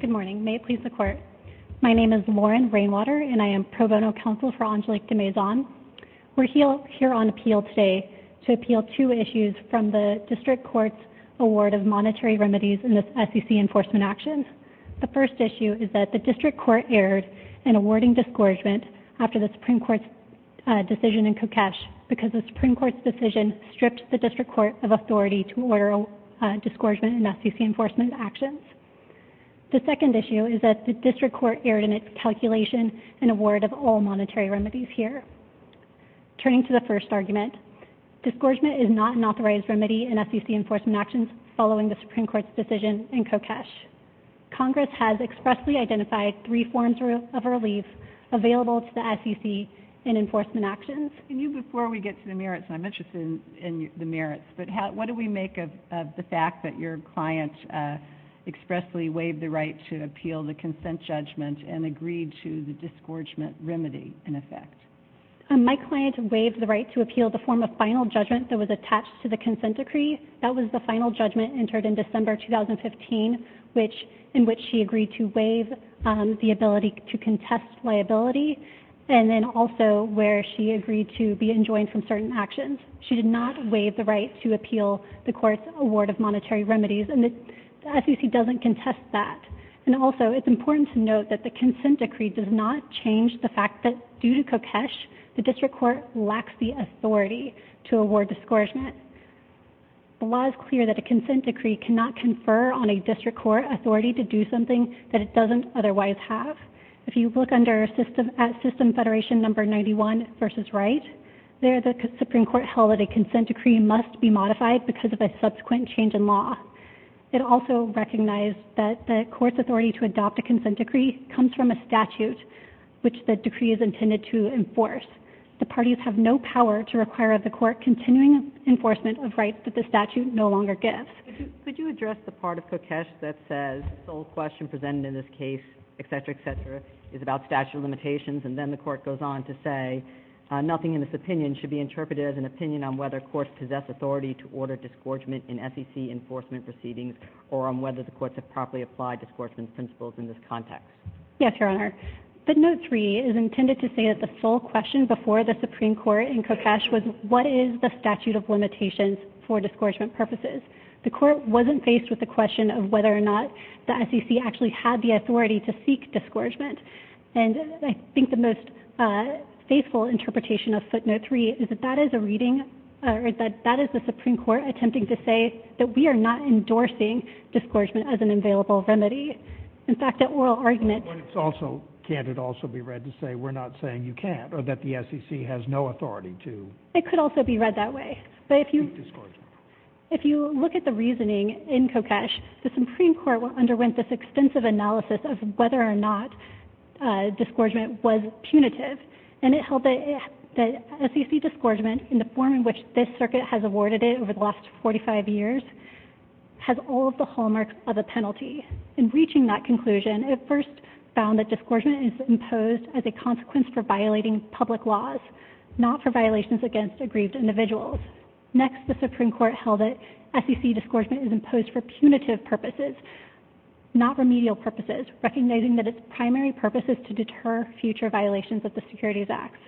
Good morning. May it please the Court. My name is Lauren Rainwater, and I am pro bono counsel for Angelique de Maison. We're here on appeal today to appeal two issues from the District Court's award of monetary remedies in the SEC Enforcement Actions. The first issue is that the District Court erred in awarding discouragement after the Supreme Court's decision in Kokesh because the Supreme Court's decision stripped the District Court of authority to award discouragement in SEC Enforcement Actions. The second issue is that the District Court erred in its calculation in award of all monetary remedies here. Turning to the first argument, discouragement is not an authorized remedy in SEC Enforcement Actions following the Supreme Court's decision in Kokesh. Congress has expressly identified three forms of relief available to the SEC in Enforcement Actions. And you, before we get to the merits, and I'm interested in the merits, but what do we make of the fact that your client expressly waived the right to appeal the consent judgment and agreed to the discouragement remedy, in effect? My client waived the right to appeal the form of final judgment that was attached to the consent decree. That was the final judgment entered in December 2015, in which she agreed to waive the ability to contest liability, and then also where she agreed to be enjoined from certain actions. She did not waive the right to appeal the court's award of monetary remedies, and the SEC doesn't contest that. And also, it's important to note that the consent decree does not change the fact that due to Kokesh, the District Court lacks the authority to award discouragement. The law is clear that a consent decree cannot confer on a District Court authority to do something that it doesn't otherwise have. If you look at System Federation Number 91 versus Wright, there the Supreme Court held that a consent decree must be modified because of a subsequent change in law. It also recognized that the court's authority to adopt a consent decree comes from a statute which the decree is intended to enforce. The parties have no power to require of the court continuing enforcement of rights that the statute no longer gives. Could you address the part of Kokesh that says the sole question presented in this case, etc., etc., is about statute of limitations, and then the court goes on to say nothing in this opinion should be interpreted as an opinion on whether courts possess authority to order discouragement in SEC enforcement proceedings, or on whether the courts have properly applied discouragement principles in this context? Yes, Your Honor. The Note 3 is intended to say that the sole question before the Supreme Court in Kokesh was what is the statute of limitations for discouragement purposes. The court wasn't faced with the question of whether or not the SEC actually had the authority to seek discouragement, and I think the most faithful interpretation of Footnote 3 is that that is a reading, or that that is the Supreme Court attempting to say that we are not endorsing discouragement as an available remedy. In fact, that oral argument... But it's also, can't it also be read to say we're not saying you can't, or that the SEC has no authority to... It could also be read that way. Seek discouragement. If you look at the reasoning in Kokesh, the Supreme Court underwent this extensive analysis of whether or not discouragement was punitive, and it held that SEC discouragement in the form in which this circuit has awarded it over the last 45 years has all of the hallmarks of a penalty. In reaching that conclusion, it first found that discouragement is imposed as a consequence for violating public laws, not for violations against aggrieved individuals. Next, the Supreme Court held that SEC discouragement is imposed for punitive purposes, not remedial purposes, recognizing that its primary purpose is to deter future violations of the Securities Acts.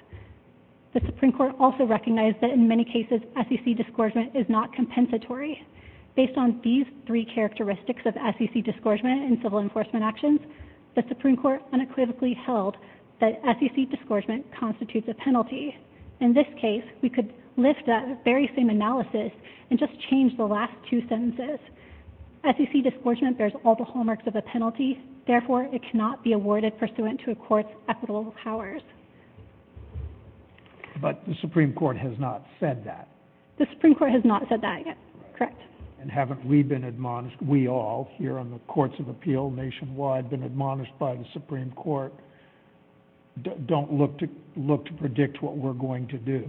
The Supreme Court also recognized that in many cases, SEC discouragement is not compensatory. Based on these three characteristics of SEC discouragement in civil enforcement actions, the Supreme Court unequivocally held that SEC discouragement constitutes a penalty. In this case, we could lift that very same analysis and just change the last two sentences. SEC discouragement bears all the hallmarks of a penalty, therefore it cannot be awarded pursuant to a court's equitable powers. But the Supreme Court has not said that. The Supreme Court has not said that yet, correct. And haven't we been admonished, we all here on the Courts of Appeal nationwide, been admonished by the Supreme Court, don't look to look to predict what we're going to do.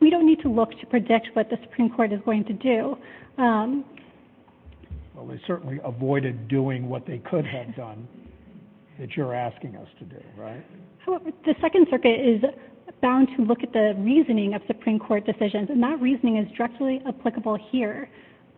We don't need to look to predict what the Supreme Court is going to do. Well, they certainly avoided doing what they could have done that you're asking us to do, right? The Second Circuit is bound to look at the reasoning of Supreme Court decisions and that reasoning is directly applicable here.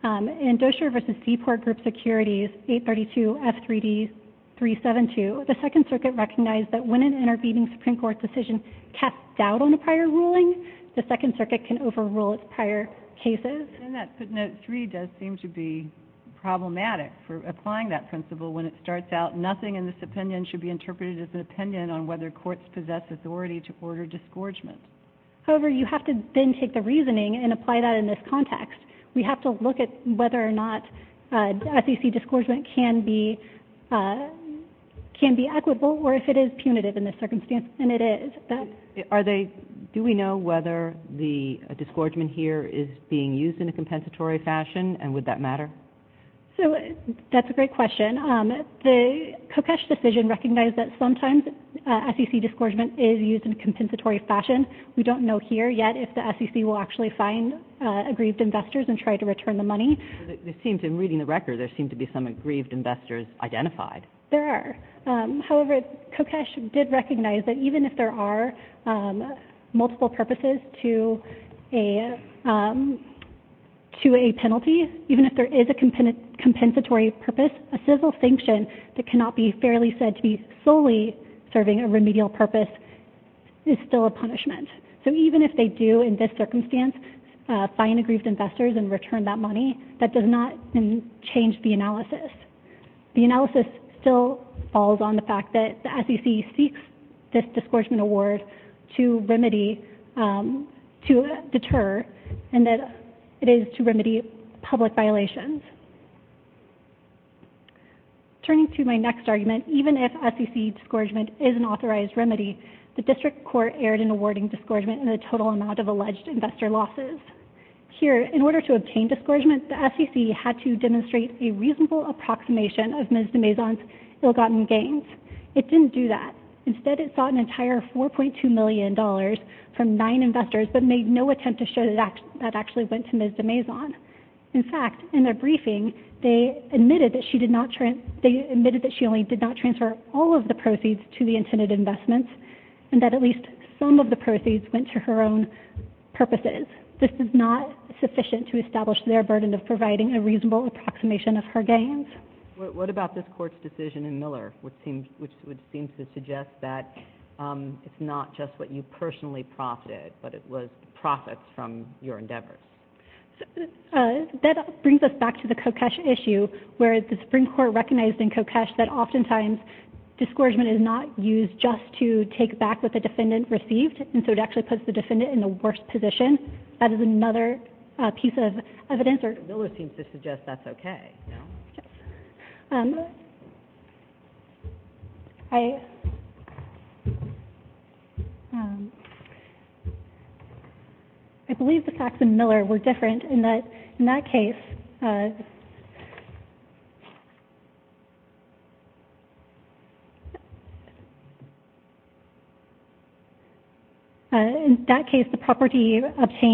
In Dozier v. Seaport Group Securities 832 F3D 372, the Second Circuit recognized that when an intervening Supreme Court decision casts doubt on a prior ruling, the Second Circuit can overrule its prior cases. And that footnote 3 does seem to be problematic for applying that principle when it starts out, nothing in this opinion should be interpreted as an opinion on whether courts possess authority to order discouragement. However, you have to then take the reasoning and apply that in this context. We have to look at whether or not SEC discouragement can be equitable or if it is punitive in this circumstance, and it is. Are they, do we know whether the discouragement here is being used in a compensatory fashion and would that matter? So, that's a great question. The Kokesh decision recognized that sometimes SEC discouragement is used in a compensatory fashion. We don't know here yet if the SEC will actually find aggrieved investors and try to return the money. It seems in reading the record, there seem to be some aggrieved investors identified. There are. However, Kokesh did recognize that even if there are multiple purposes to a penalty, even if there is a compensatory purpose, a civil sanction that cannot be fairly said to be solely serving a remedial purpose is still a punishment. So, even if they do, in this circumstance, find aggrieved investors and return that money, that does not change the analysis. The analysis still falls on the fact that the SEC seeks this discouragement award to remedy, to deter, and that it is to remedy public violations. Turning to my next argument, even if SEC discouragement is an authorized remedy, the district court erred in awarding discouragement in the total amount of alleged investor losses. Here, in order to obtain discouragement, the SEC had to demonstrate a reasonable approximation of Ms. de Maison's ill-gotten gains. It didn't do that. Instead, it sought an entire $4.2 million from nine investors but made no attempt to show that that actually went to Ms. de Maison. In fact, in their briefing, they admitted that she only did not transfer all of the proceeds to the intended investments and that at least some of the proceeds went to her own purposes. This is not sufficient to establish their burden of providing a reasonable approximation of her gains. What about this court's decision in Miller, which seems to suggest that it's not just what you personally profited, but it was profits from your endeavors? That brings us back to the Kokesh issue, where the Supreme Court recognized in Kokesh that oftentimes discouragement is not used just to take back what the defendant received, and so it actually puts the defendant in the worst position. That is another piece of evidence. Miller seems to suggest that's okay. Yes. I believe the facts in Miller were different in that, in that case, in that case, the property received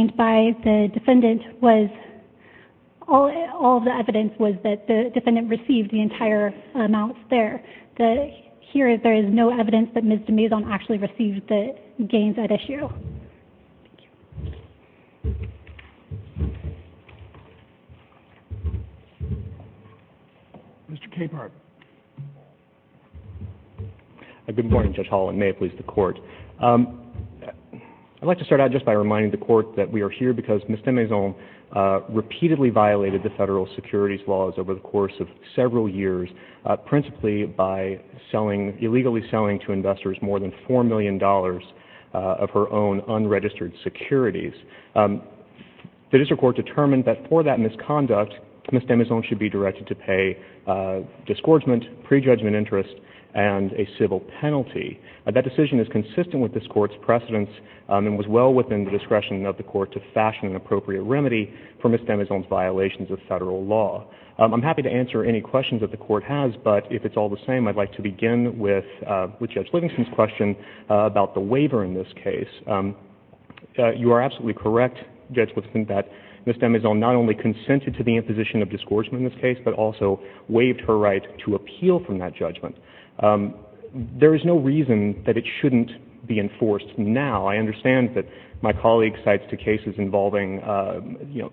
the entire amounts there. Here, there is no evidence that Ms. de Maison actually received the gains at issue. Thank you. Mr. Capehart. Good morning, Judge Holland. May it please the Court. I'd like to start out just by reminding the Court that we are here because Ms. de Maison repeatedly violated the federal securities laws over the course of several years, principally by selling, illegally selling to investors more than $4 million of her own unregistered securities. The district court determined that for that misconduct, Ms. de Maison should be directed to pay disgorgement, prejudgment interest, and a civil penalty. That decision is consistent with this court's precedence and was well within the discretion of the Court to fashion an appropriate remedy for Ms. de Maison's violations of federal law. I'm happy to answer any questions that the Court has, but if it's all the same, I'd like to begin with Judge Livingston's question about the waiver in this case. You are absolutely correct, Judge Livingston, that Ms. de Maison not only consented to the imposition of disgorgement in this case, but also waived her right to appeal from that judgment. There is no reason that it shouldn't be enforced now. I understand that my colleague cites two cases involving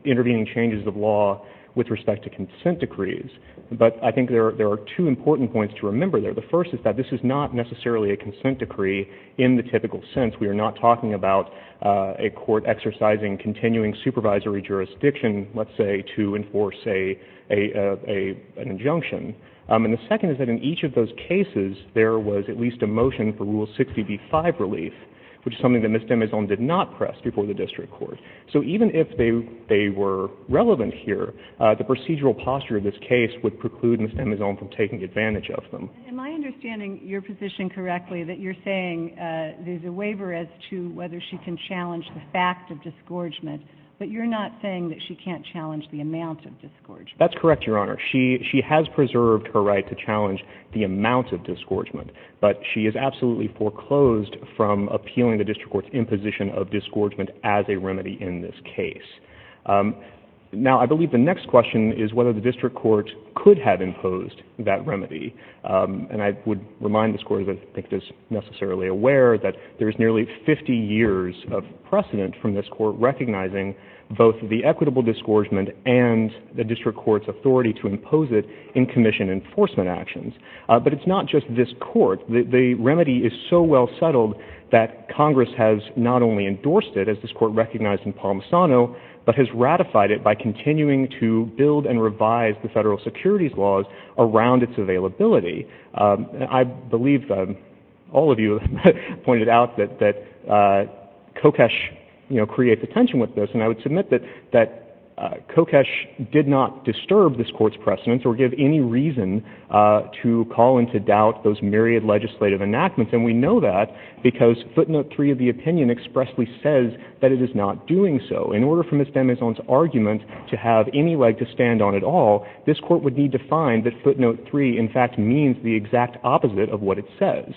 intervening changes of law with respect to consent decrees, but I think there are two important points to remember there. The first is that this is not necessarily a consent decree in the typical sense. We are not talking about a court exercising continuing supervisory jurisdiction, let's say, to enforce an injunction. And the second is that in each of those cases, there was at least a motion for Rule 60b-5 relief, which is something that Ms. de Maison did not press before the District Court. So even if they were relevant here, the procedural posture of this case would preclude Ms. de Maison from taking advantage of them. Am I understanding your position correctly that you're saying there's a waiver as to whether she can challenge the fact of disgorgement, but you're not saying that she can't challenge the amount of disgorgement? That's correct, Your Honor. She has preserved her right to challenge the amount of disgorgement, but she has absolutely foreclosed from appealing the District Court's imposition of disgorgement as a remedy in this case. Now, I believe the next question is whether the District Court could have imposed that remedy. And I would remind this Court, as I think it is necessarily aware, that there is nearly 50 years of precedent from this Court recognizing both the equitable disgorgement and the District Court's authority to impose it in commission enforcement actions. But it's not just this Court. The remedy is so well settled that Congress has not only endorsed it, as this Court recognized in Palmisano, but has ratified it by continuing to build and revise the federal securities laws around its availability. I believe all of you pointed out that Kokesh creates a tension with this, and I would submit that Kokesh did not disturb this Court's precedence or give any reason to call into doubt those myriad legislative enactments. And we know that because footnote 3 of the opinion expressly says that it is not doing so. In order for Ms. Demison's argument to have any leg to stand on at all, this Court would need to find that footnote 3, in fact, means the exact opposite of what it says.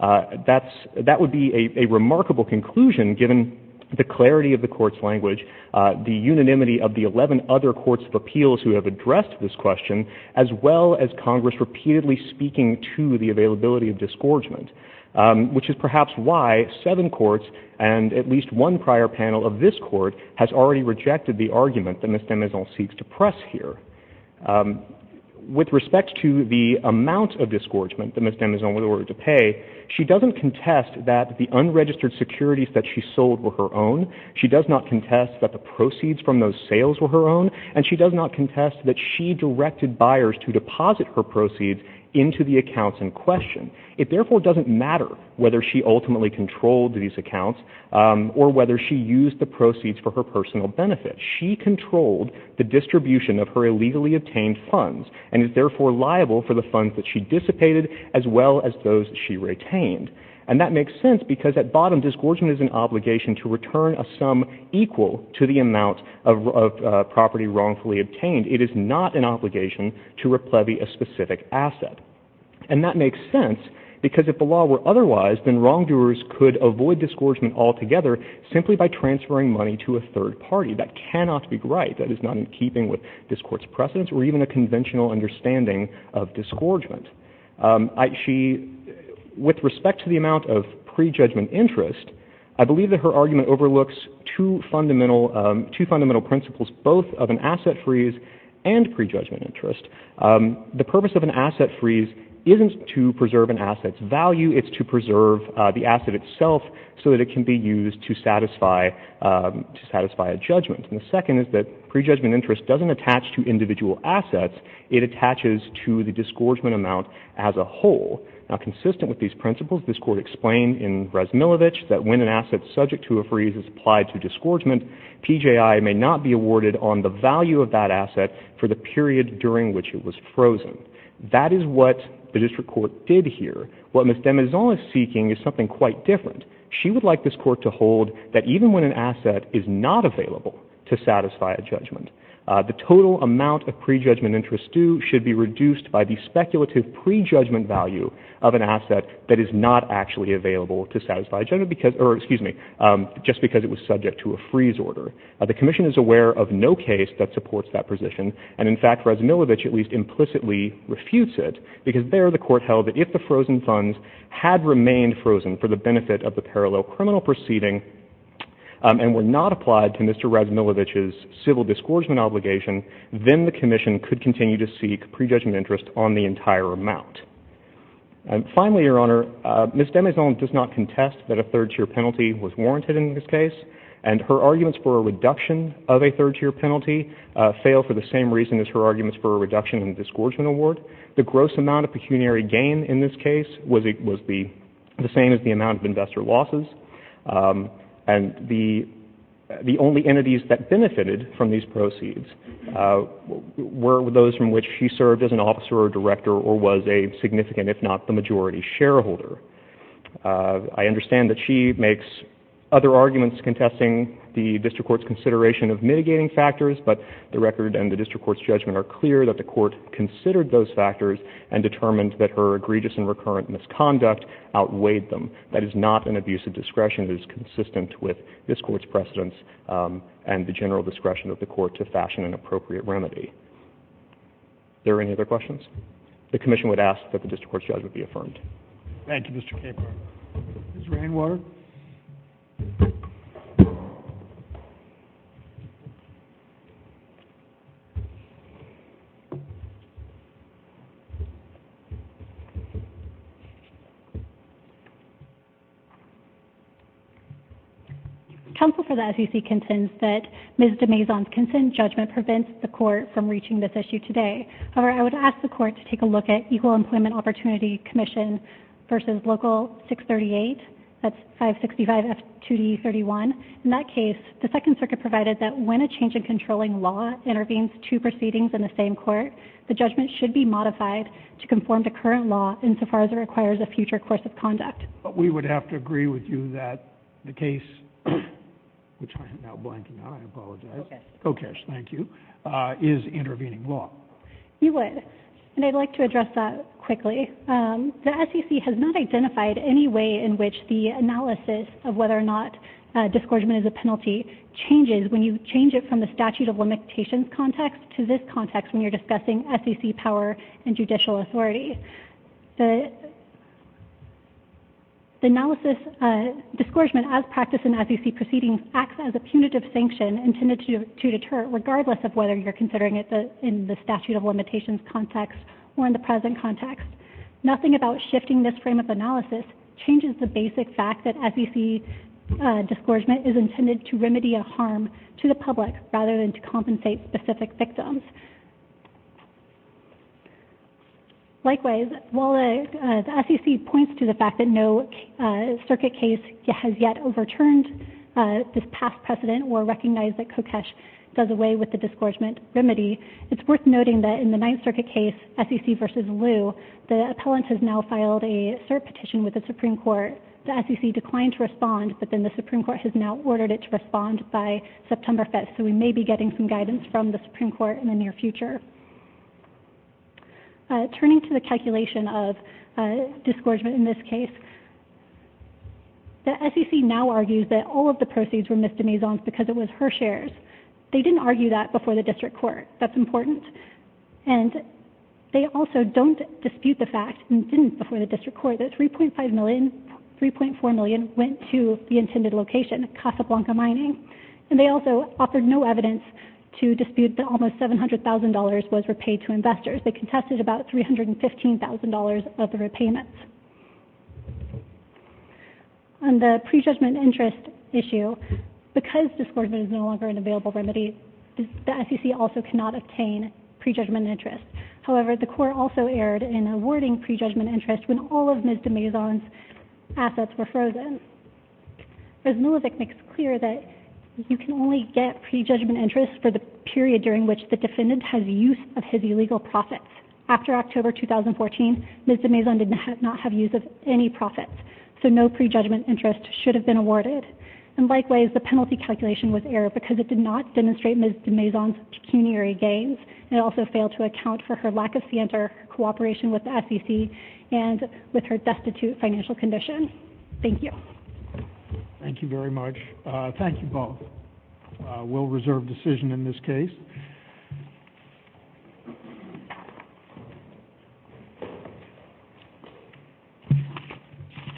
That would be a remarkable conclusion, given the clarity of the Court's language, the unanimity of the 11 other courts of appeals who have addressed this question, as well as Congress repeatedly speaking to the availability of disgorgement, which is perhaps why seven courts and at least one prior panel of this Court has already rejected the argument that Ms. Demison seeks to press here. With respect to the amount of disgorgement that Ms. Demison was ordered to pay, she doesn't contest that the unregistered securities that she sold were her own. She does not contest that the proceeds from those sales were her own. And she does not contest that she directed buyers to deposit her proceeds into the accounts in question. It, therefore, doesn't matter whether she ultimately controlled these accounts or whether she used the proceeds for her personal benefit. She controlled the distribution of her illegally obtained funds and is, therefore, liable for the funds that she dissipated as well as those she retained. And that makes sense because at bottom, disgorgement is an obligation to return a sum equal to the amount of property wrongfully obtained. It is not an obligation to replevy a specific asset. And that makes sense because if the law were otherwise, then wrongdoers could avoid disgorgement altogether simply by transferring money to a third party. That cannot be right. That is not in keeping with this Court's precedents or even a conventional understanding of disgorgement. She, with respect to the amount of prejudgment interest, I believe that her argument overlooks two fundamental principles, both of an asset freeze and prejudgment interest. The purpose of an asset freeze isn't to preserve an asset's value. It's to preserve the asset itself so that it can be used to satisfy a judgment. And the second is that prejudgment interest doesn't attach to individual assets. It attaches to the disgorgement amount as a whole. Now, consistent with these principles, this Court explained in Razmilovich that when an asset freeze is applied to disgorgement, PJI may not be awarded on the value of that asset for the period during which it was frozen. That is what the District Court did here. What Ms. Demizon is seeking is something quite different. She would like this Court to hold that even when an asset is not available to satisfy a judgment, the total amount of prejudgment interest due should be reduced by the speculative prejudgment value of an asset that is not actually available to satisfy a judgment, or excuse me, just because it was subject to a freeze order. The Commission is aware of no case that supports that position. And, in fact, Razmilovich at least implicitly refutes it because there the Court held that if the frozen funds had remained frozen for the benefit of the parallel criminal proceeding and were not applied to Mr. Razmilovich's civil disgorgement obligation, then the Commission could continue to seek prejudgment interest on the entire amount. Finally, Your Honor, Ms. Demizon does not contest that a third-tier penalty was warranted in this case, and her arguments for a reduction of a third-tier penalty fail for the same reason as her arguments for a reduction in the disgorgement award. The gross amount of pecuniary gain in this case was the same as the amount of investor losses, and the only entities that benefited from these proceeds were those from which she served as an officer or director or was a significant, if not the majority, shareholder. I understand that she makes other arguments contesting the district court's consideration of mitigating factors, but the record and the district court's judgment are clear that the court considered those factors and determined that her egregious and recurrent misconduct outweighed them. That is not an abuse of discretion. It is consistent with this court's precedents and the general discretion of the court to fashion an appropriate remedy. Are there any other questions? The Commission would ask that the district court's judgment be affirmed. Thank you, Mr. Capehart. Ms. Rainwater? Counsel for the SEC contends that Ms. de Maison's consent judgment prevents the court from reaching this issue today. However, I would ask the court to take a look at Equal Employment Opportunity Commission v. Local 638, that's 565F2D31. In that case, the Second Circuit provided that when a change in controlling law intervenes two proceedings in the same court, the judgment should be modified to conform to current law insofar as it requires a future course of conduct. We would have to agree with you that the case, which I am now blanking on, I apologize. Kokesh, thank you, is intervening law. You would, and I'd like to address that quickly. The SEC has not identified any way in which the analysis of whether or not a disgorgement is a penalty changes when you change it from the statute of limitations context to this context when you're discussing SEC power and judicial authority. The analysis disgorgement as practiced in SEC proceedings acts as a punitive sanction intended to deter regardless of whether you're considering it in the statute of limitations context or in the present context. Nothing about shifting this frame of analysis changes the basic fact that SEC disgorgement is intended to remedy a harm to the public rather than to compensate specific victims. Likewise, while the SEC points to the fact that no circuit case has yet overturned this past precedent or recognized that Kokesh does away with the disgorgement remedy, it's worth noting that in the Ninth Circuit case, SEC v. Liu, the appellant has now filed a cert petition with the Supreme Court. The SEC declined to respond, but then the Supreme Court has now ordered it to respond by September 5th, so we may be getting some guidance from the Supreme Court in the near future. Turning to the calculation of disgorgement in this case, the SEC now argues that all of the proceeds were Ms. de Maison's because it was her shares. They didn't argue that before the district court. That's important. And they also don't dispute the fact, and didn't before the district court, that 3.5 million, 3.4 million went to the intended location, Casablanca Mining. And they also offered no evidence to dispute that almost $700,000 was repaid to investors. They contested about $315,000 of the repayments. On the prejudgment interest issue, because disgorgement is no longer an available remedy, the SEC also cannot obtain prejudgment interest. However, the court also erred in awarding prejudgment interest when all of Ms. de Maison's assets were frozen. Ms. Milovic makes clear that you can only get prejudgment interest for the period during which the defendant has use of his illegal profits. After October 2014, Ms. de Maison did not have use of any profits, so no prejudgment interest should have been awarded. And likewise, the penalty calculation was errored because it did not demonstrate Ms. de Maison's pecuniary gains. It also failed to account for her lack of scienter cooperation with the SEC and with her destitute financial condition. Thank you. Thank you very much. Thank you both. We'll reserve decision in this case.